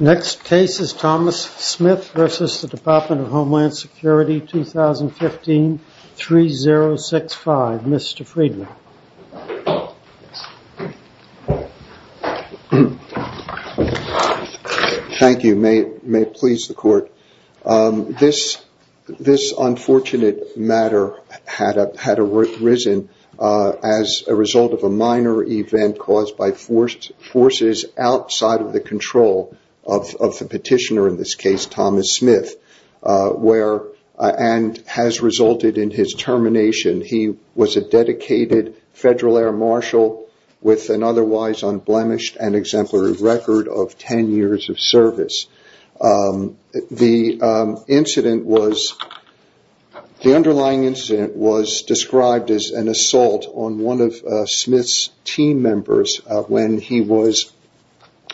Next case is Thomas Smith v. Department of Homeland Security 2015-3065. Mr. Friedman. Thank you. May it please the court. This unfortunate matter had arisen as a result of a minor event caused by forces outside of the control of the petitioner, in this case Thomas Smith, and has resulted in his termination. He was a dedicated Federal Air Marshal with an otherwise unblemished and exemplary record of 10 years of service. The incident was described as an assault on one of Smith's team members when he was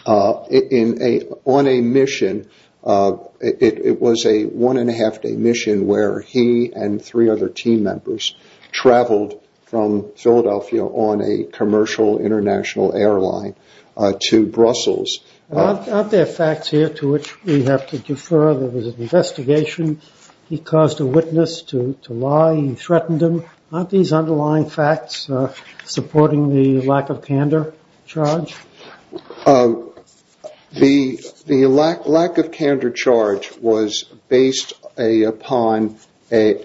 on a mission. It was a one and a half day mission where he and three other team members traveled from Philadelphia on a commercial international airline to Brussels. Are there facts here to which we have to defer? There was an investigation, he caused a witness to lie, he threatened him. Aren't these underlying facts supporting the lack of candor charge? The lack of candor charge was based upon a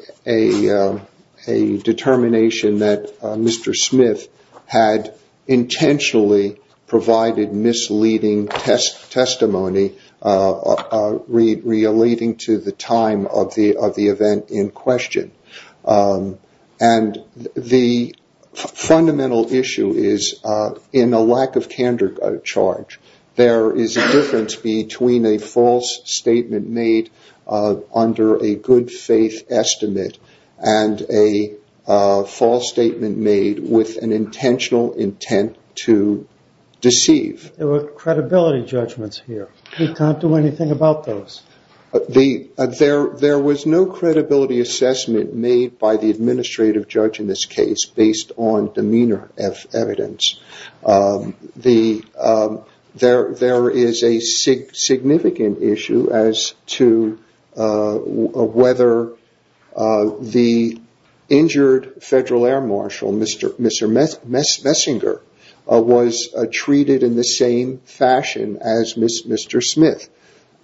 determination that Mr. Smith had intentionally provided misleading testimony relating to the time of the event in question. The fundamental issue is in a lack of candor charge, there is a difference between a false statement made under a good faith estimate and a false statement made with an intentional intent to deceive. There were credibility judgments here, we can't do anything about those. There was no credibility assessment made by the administrative judge in this case based on demeanor evidence. There is a significant issue as to whether the injured Federal Air Marshal, Mr. Messinger, was treated in the same fashion as Mr. Smith.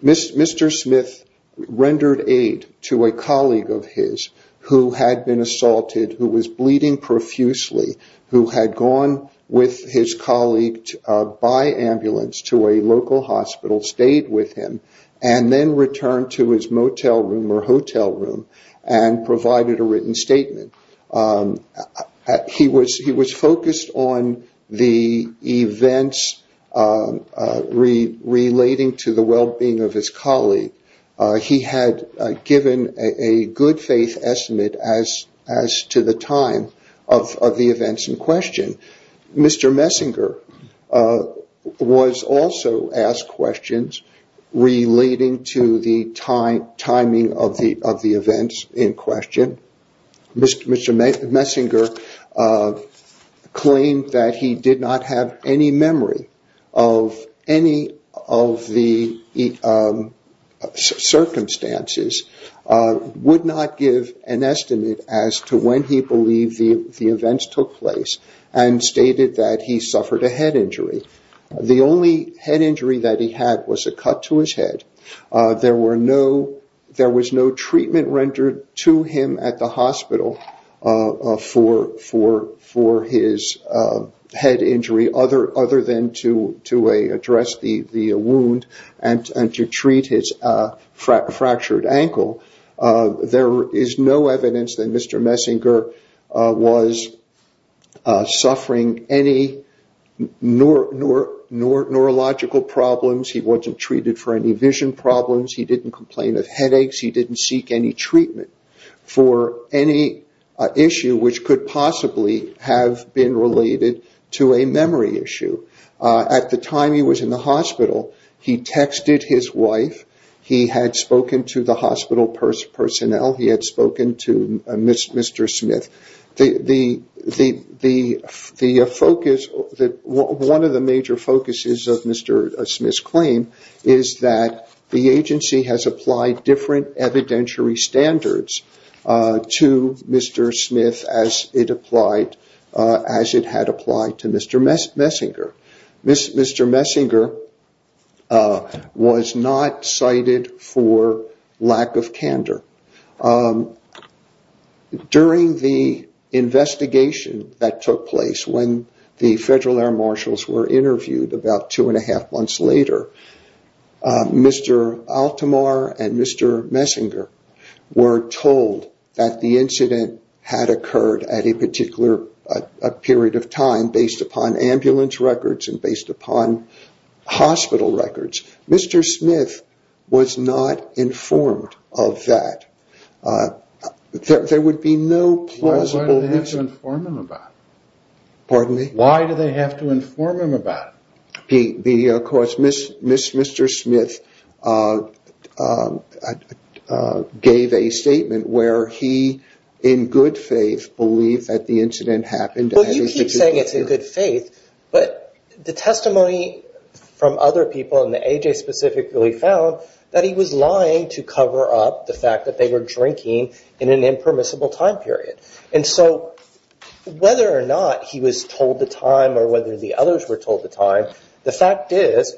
Mr. Smith rendered aid to a colleague of his who had been assaulted, who was bleeding profusely, who had gone with his colleague by ambulance to a local hospital, stayed with him, and then returned to his motel room or hotel room and provided a written statement. He was focused on the events relating to the well-being of his colleague. He had given a good faith estimate as to the time of the events in question. Mr. Messinger was also asked questions relating to the timing of the events in question. Mr. Messinger claimed that he did not have any memory of any of the circumstances, and would not give an estimate as to when he believed the events took place, and stated that he suffered a head injury. The only head injury that he had was a cut to his head. There was no treatment rendered to him at the hospital for his head injury other than to address the wound and to treat his fractured ankle. There is no evidence that Mr. Messinger was suffering any neurological problems. He wasn't treated for any vision problems. He didn't complain of headaches. He didn't seek any treatment for any issue which could possibly have been related to a memory issue. At the time he was in the hospital, he texted his wife. He had spoken to the hospital personnel. He had spoken to Mr. Smith. One of the major focuses of Mr. Smith's claim is that the agency has applied different evidentiary standards to Mr. Smith as it had applied to Mr. Messinger. Mr. Messinger was not cited for lack of candor. During the investigation that took place when the Federal Air Marshals were told that the incident had occurred at a particular period of time based upon ambulance records and based upon hospital records, Mr. Smith was not informed of that. There would be no plausible… Why do they have to inform him about it? Mr. Smith gave a statement where he in good faith believed that the incident happened. Well, you keep saying it's in good faith, but the testimony from other people and the AJ specifically found that he was lying to cover up the fact that they were drinking in an whether or not he was told the time or whether the others were told the time, the fact is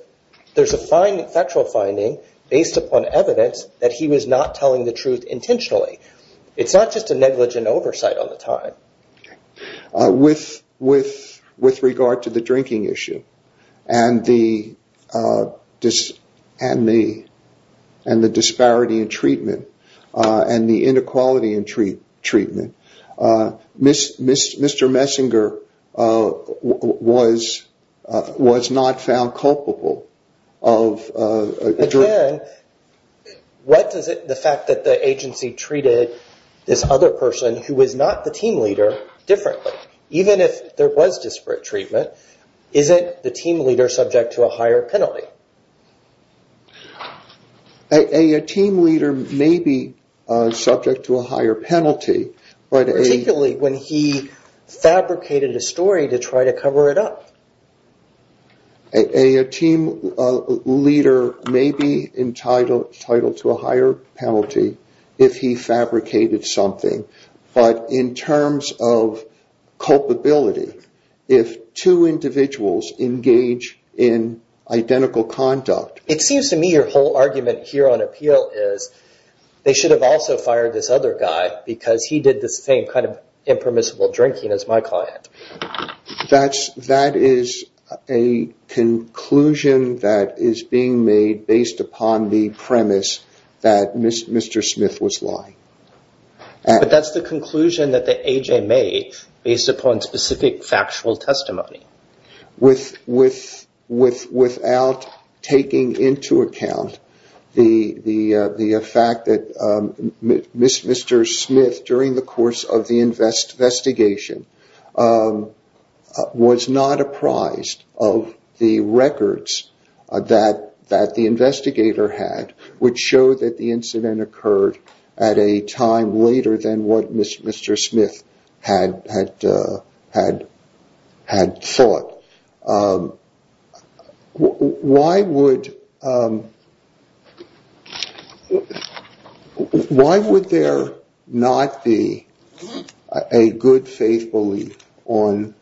there's a factual finding based upon evidence that he was not telling the truth intentionally. It's not just a negligent oversight on the time. With regard to the drinking issue and the disparity in treatment and the inequality in treatment, Mr. Messinger was not found culpable of… What does the fact that the agency treated this other person who was not the team leader differently? Even if there was disparate treatment, isn't the team leader subject to a higher penalty? A team leader may be subject to a higher penalty, but a… Particularly when he fabricated a story to try to cover it up. A team leader may be entitled to a higher penalty if he fabricated something, but in terms of It seems to me your whole argument here on appeal is they should have also fired this other guy because he did the same kind of impermissible drinking as my client. That is a conclusion that is being made based upon the premise that Mr. Smith was lying. But that's the conclusion that the AJ made based upon specific factual testimony. Without taking into account the fact that Mr. Smith, during the course of the investigation, was not apprised of the records that the investigator had, which showed that the Why would there not be a good faith belief on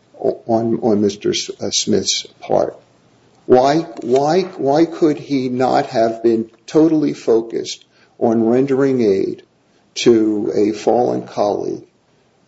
Mr. Smith's part? Why could he not have been totally focused on rendering aid to a fallen colleague,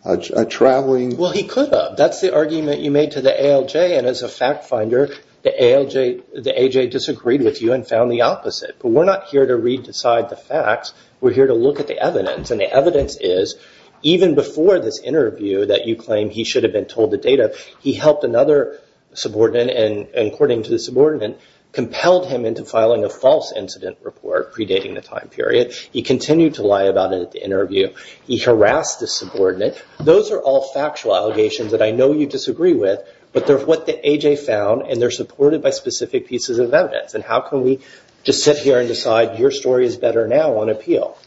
a traveling… He could have. That's the argument you made to the ALJ, and as a fact finder, the AJ disagreed with you and found the opposite. But we're not here to re-decide the facts. We're here to look at the evidence, and the evidence is even before this interview that you claim he should have been told the data, he helped another subordinate and, according to the subordinate, compelled him into filing a false incident report predating the time period. He continued to lie about it at the interview. He harassed the subordinate. Those are all factual allegations that I know you disagree with, but they're what the AJ found, and they're supported by specific pieces of evidence. How can we just sit here and decide your story is better now on appeal?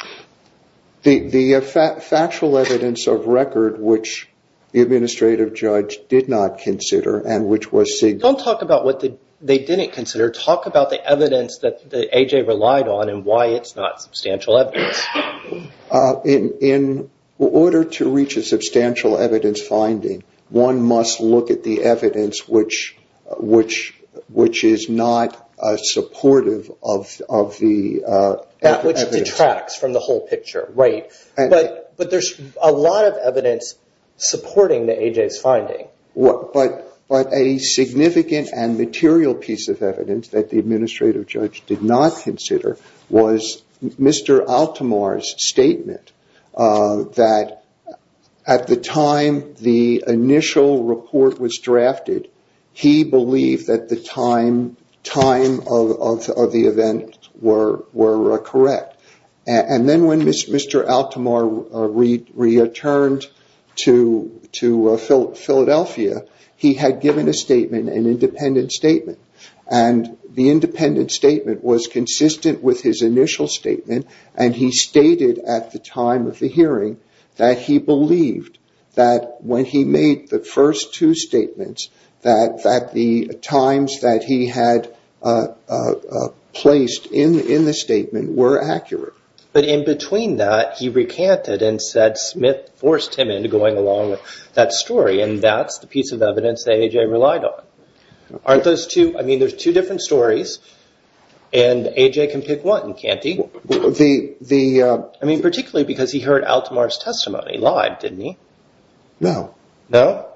The factual evidence of record, which the administrative judge did not consider, and which was… Don't talk about what they didn't consider. Talk about the evidence that the AJ relied on and why it's not substantial evidence. In order to reach a substantial evidence finding, one must look at the evidence which is not supportive of the evidence. That which detracts from the whole picture, right? But there's a lot of evidence supporting the AJ's finding. But a significant and material piece of evidence that the administrative judge did not consider was Mr. Altomare's statement that at the time the initial report was drafted, he believed that the time of the event were correct. Then when Mr. Altomare returned to Philadelphia, he had given a statement, an independent statement. The independent statement was consistent with his initial statement, and he stated at the time of the hearing that he believed that when he made the first two statements that the times that he had placed in the statement were accurate. But in between that, he recanted and said Smith forced him into going along with that story, and that's the piece of evidence that AJ relied on. Aren't those two? There's two different stories, and AJ can pick one, can't he? Particularly because he heard Altomare's testimony live, didn't he? No. No?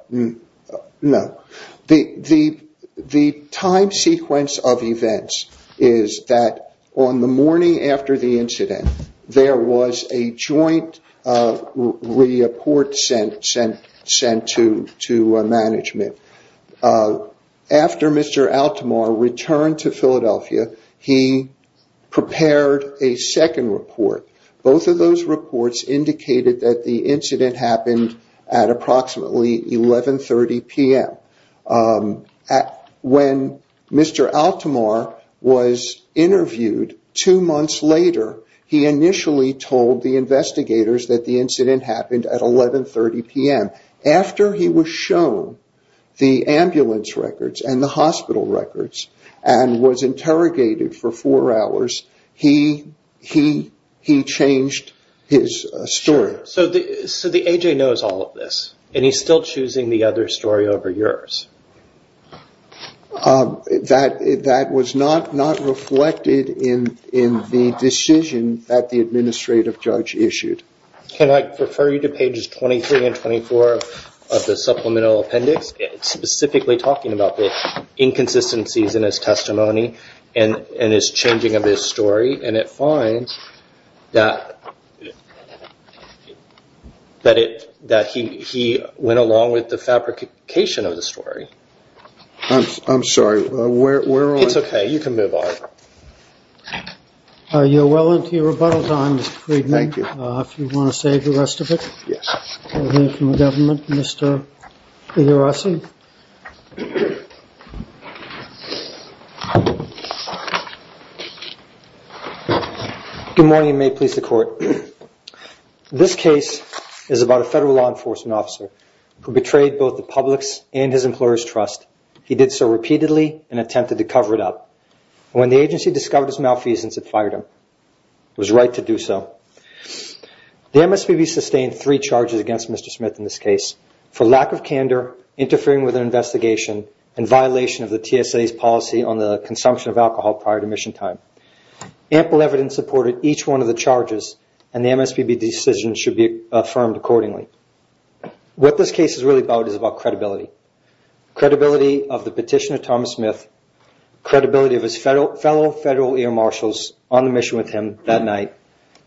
No. The time sequence of events is that on the morning after the incident, there was a joint report sent to management. After Mr. Altomare returned to Philadelphia, he prepared a second report. Both of those reports indicated that the incident happened at approximately 11.30 p.m. When Mr. Altomare was interviewed two months later, he initially told the investigators that the incident happened at 11.30 p.m. After he was shown the ambulance records and the hospital records and was interrogated for four hours, he changed his story. So AJ knows all of this, and he's still choosing the other story over yours? Yes. That was not reflected in the decision that the administrative judge issued. Can I refer you to pages 23 and 24 of the supplemental appendix, specifically talking about the inconsistencies in his testimony and his changing of his story, and it finds that he went along with the fabrication of the story? I'm sorry. Where are we? It's okay. You can move on. Are you well into your rebuttal time, Mr. Friedman? Thank you. If you want to save the rest of it. Yes. We'll hear from the government, Mr. Igarasi. Good morning, and may it please the court. This case is about a federal law enforcement officer who betrayed both the public's and his employer's trust. He did so repeatedly and attempted to cover it up. When the agency discovered his malfeasance, it fired him. It was right to do so. The MSPB sustained three charges against Mr. Smith in this case for lack of candor, interference, and negligence. The MSPB's decision should be affirmed accordingly. What this case is really about is about credibility. Credibility of the petitioner, Thomas Smith. Credibility of his fellow federal air marshals on the mission with him that night.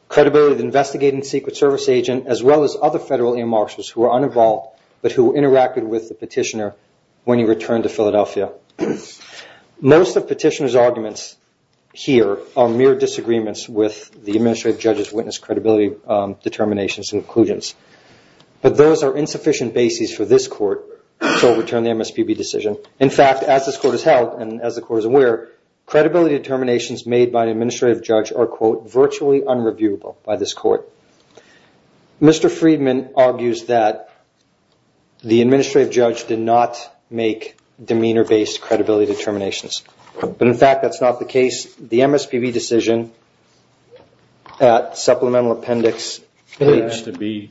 Credibility of the investigating Secret Service agent, as well as other federal air marshals who are uninvolved, but who interacted with the petitioner when he returned to Philadelphia. Most of the petitioner's arguments here are mere disagreements with the administrative judge's witness credibility determinations and conclusions. But those are insufficient bases for this court to overturn the MSPB decision. In fact, as this court has held, and as the court is aware, credibility determinations made by an administrative judge are, quote, Mr. Freedman argues that the administrative judge did not make demeanor-based credibility determinations. But in fact, that's not the case. The MSPB decision at supplemental appendix. It has to be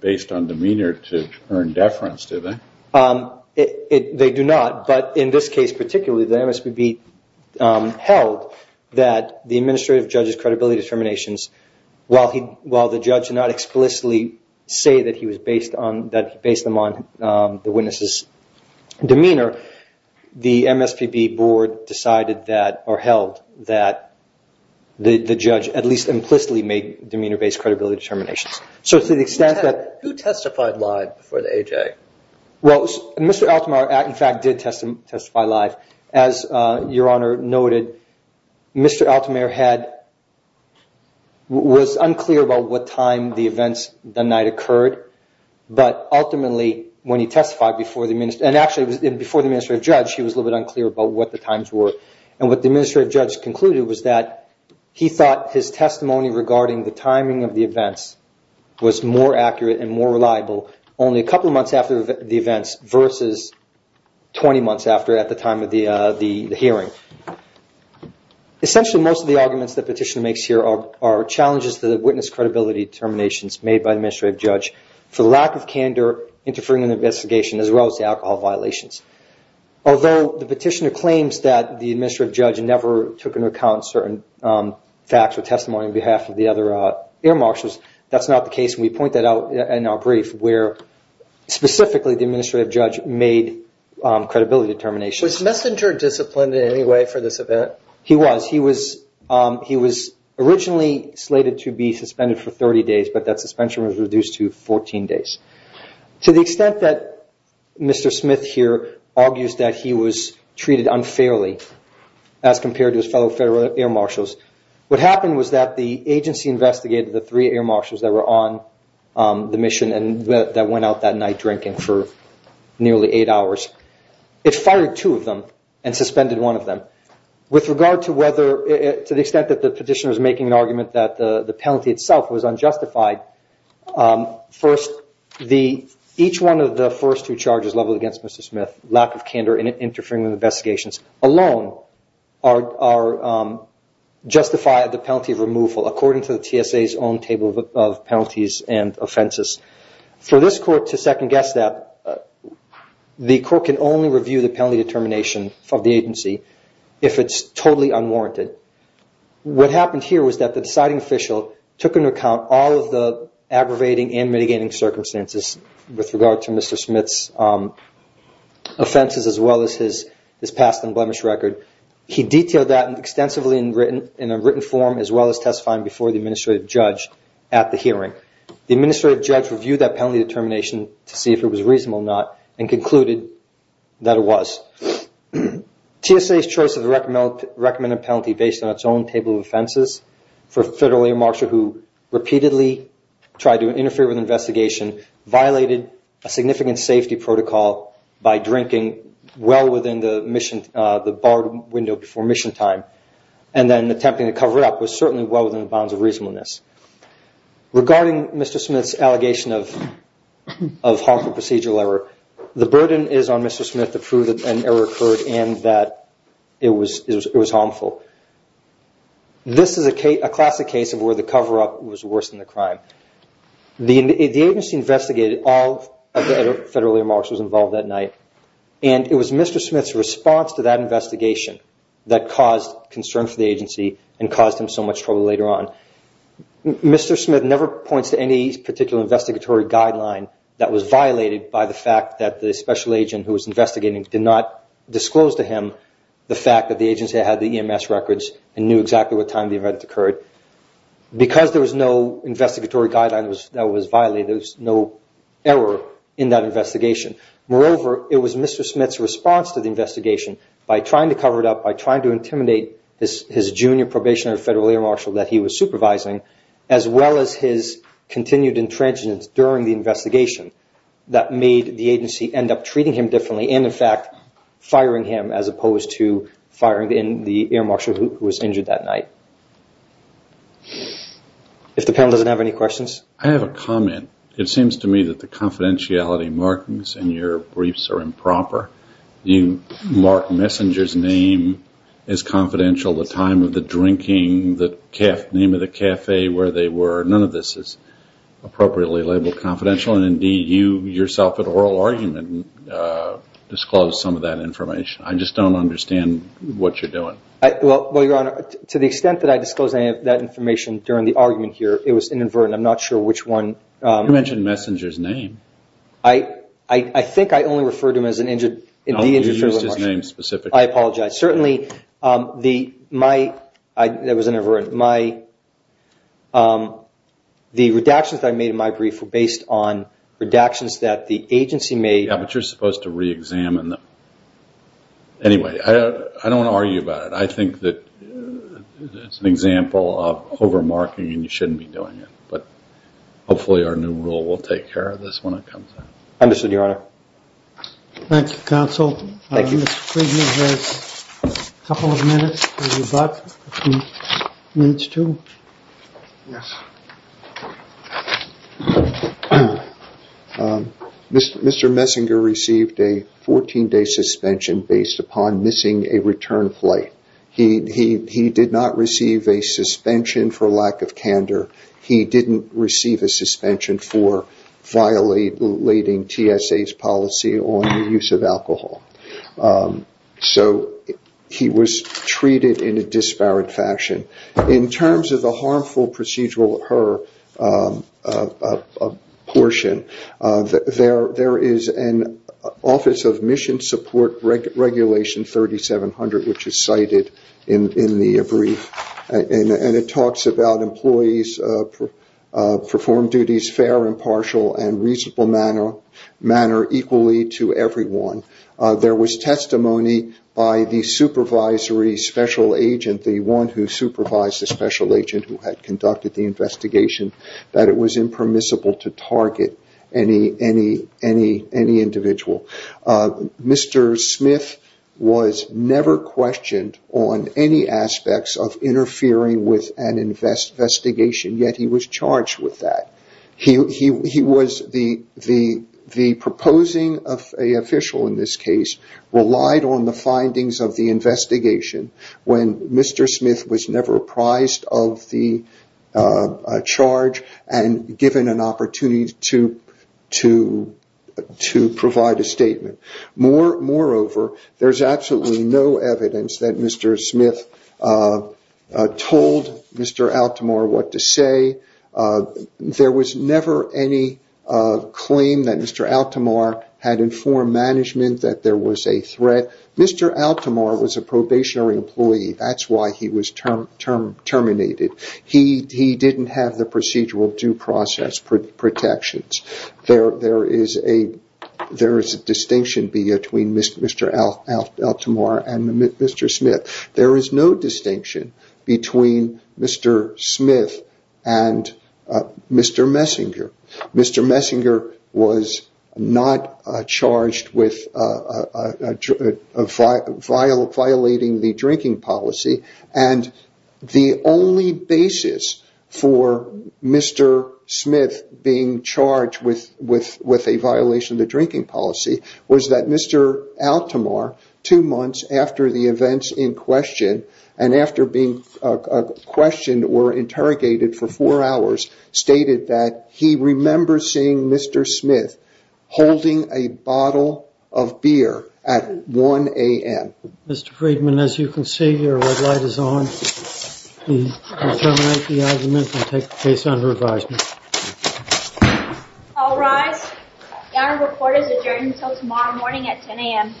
based on demeanor to earn deference, do they? They do not. But in this case particularly, the MSPB held that the administrative judge's judge did not explicitly say that he was based on the witness's demeanor. The MSPB board decided that or held that the judge at least implicitly made demeanor-based credibility determinations. So to the extent that... Who testified live before the AJ? Well, Mr. Altomare, in fact, did testify live. As Your Honor noted, Mr. Altomare had... Was unclear about what time the events the night occurred. But ultimately, when he testified before the minister... And actually, before the administrative judge, he was a little bit unclear about what the times were. And what the administrative judge concluded was that he thought his testimony regarding the timing of the events was more accurate and more reliable only a couple of months after the events versus 20 months after at the time of the hearing. Okay. Essentially, most of the arguments the petitioner makes here are challenges to the witness credibility determinations made by the administrative judge for the lack of candor interfering in the investigation as well as the alcohol violations. Although the petitioner claims that the administrative judge never took into account certain facts or testimony on behalf of the other air marshals, that's not the case. We point that out in our brief where specifically, the administrative judge made credibility determinations. Was Messenger disciplined in any way for this event? He was. He was originally slated to be suspended for 30 days, but that suspension was reduced to 14 days. To the extent that Mr. Smith here argues that he was treated unfairly as compared to his fellow federal air marshals, what happened was that the agency investigated the three air marshals that were on the mission and that went out that night drinking for nearly eight hours. It fired two of them and suspended one of them. With regard to the extent that the petitioner was making an argument that the penalty itself was unjustified, each one of the first two charges leveled against Mr. Smith, lack of candor and interfering with investigations alone justify the penalty of removal according to the TSA's own table of penalties and offenses. For this court to second guess that, the court can only review the penalty determination of the agency if it's totally unwarranted. What happened here was that the deciding official took into account all of the aggravating and mitigating circumstances with regard to Mr. Smith's offenses as well as his past and blemish record. He detailed that extensively in a written form as well as testifying before the administrative judge at the hearing. The administrative judge reviewed that penalty determination to see if it was reasonable or not and concluded that it was. TSA's choice of the recommended penalty based on its own table of offenses for a federal air marshal who repeatedly tried to interfere with an investigation violated a significant safety protocol by drinking well within the bar window before mission time and then attempting to cover up was certainly well within the bounds of reasonableness. Regarding Mr. Smith's allegation of harmful procedural error, the burden is on Mr. Smith to prove that an error occurred and that it was harmful. This is a classic case of where the cover-up was worse than the crime. The agency investigated all of the federal air marshals involved that night and it was Mr. Smith's response to that investigation that caused concern for the agency and caused him so much trouble later on. Mr. Smith never points to any particular investigatory guideline that was violated by the fact that the special agent who was investigating did not disclose to him the fact that the agency had the EMS records and knew exactly what time the event occurred. Because there was no investigatory guideline that was violated, there was no error in that investigation. Moreover, it was Mr. Smith's response to the investigation by trying to cover it up, by trying to intimidate his junior probation at a federal air marshal that he was supervising, as well as his continued intransigence during the investigation that made the agency end up treating him differently and in fact firing him as opposed to firing the air marshal who was injured that night. If the panel doesn't have any questions. I have a comment. It seems to me that the confidentiality markings in your briefs are improper. You mark messenger's name as confidential, the time of the drinking, the name of the cafe where they were. None of this is appropriately labeled confidential and indeed you yourself at oral argument disclosed some of that information. I just don't understand what you're doing. Well your honor, to the extent that I disclosed any of that information during the argument here, it was inadvertent. I'm not sure which one. You mentioned messenger's name. I think I only referred to him as an injured. No, you used his name specifically. I apologize. Certainly, the redactions that I made in my brief were based on redactions that the agency made. Yeah, but you're supposed to re-examine them. Anyway, I don't want to argue about it. I think that it's an example of over marking and you shouldn't be doing it. Hopefully, our new rule will take care of this when it comes out. Understood, your honor. Thank you, counsel. Mr. Messinger received a 14 day suspension based upon missing a return flight. He did not receive a suspension for lack of candor. He didn't receive a suspension for violating TSA's policy on the use of alcohol. He was treated in a disparate fashion. In terms of the harmful procedural H.E.R. portion, there is an Office of Mission Support Regulation 3700, which is cited in the brief. It talks about employees perform duties fair, impartial, and reasonable manner equally to everyone. There was testimony by the supervisory special agent, the one who supervised the special agent who had conducted the investigation, that it was impermissible to target any individual. Mr. Smith was never questioned on any aspects of interfering with an investigation, yet he was charged with that. The proposing of an official in this case relied on the findings of the investigation. When Mr. Smith was never apprised of the charge and given an opportunity to provide a statement. Moreover, there is absolutely no evidence that Mr. Smith told Mr. Altomare what to say. There was never any claim that Mr. Altomare had informed management that there was a threat. Mr. Altomare was a probationary employee. That's why he was terminated. He didn't have the procedural due process protections. There is a distinction between Mr. Altomare and Mr. Smith. There is no distinction between Mr. Smith and Mr. Messinger. Mr. Messinger was not charged with violating the drinking policy. The only basis for Mr. Smith being charged with a violation of the drinking policy was that Mr. Altomare, two months after the events in question and after being questioned or interrogated for four hours, stated that he remembers seeing Mr. Smith holding a bottle of beer at 1 a.m. Mr. Friedman, as you can see, your red light is on. All rise. The honor report is adjourned until tomorrow morning at 10 a.m.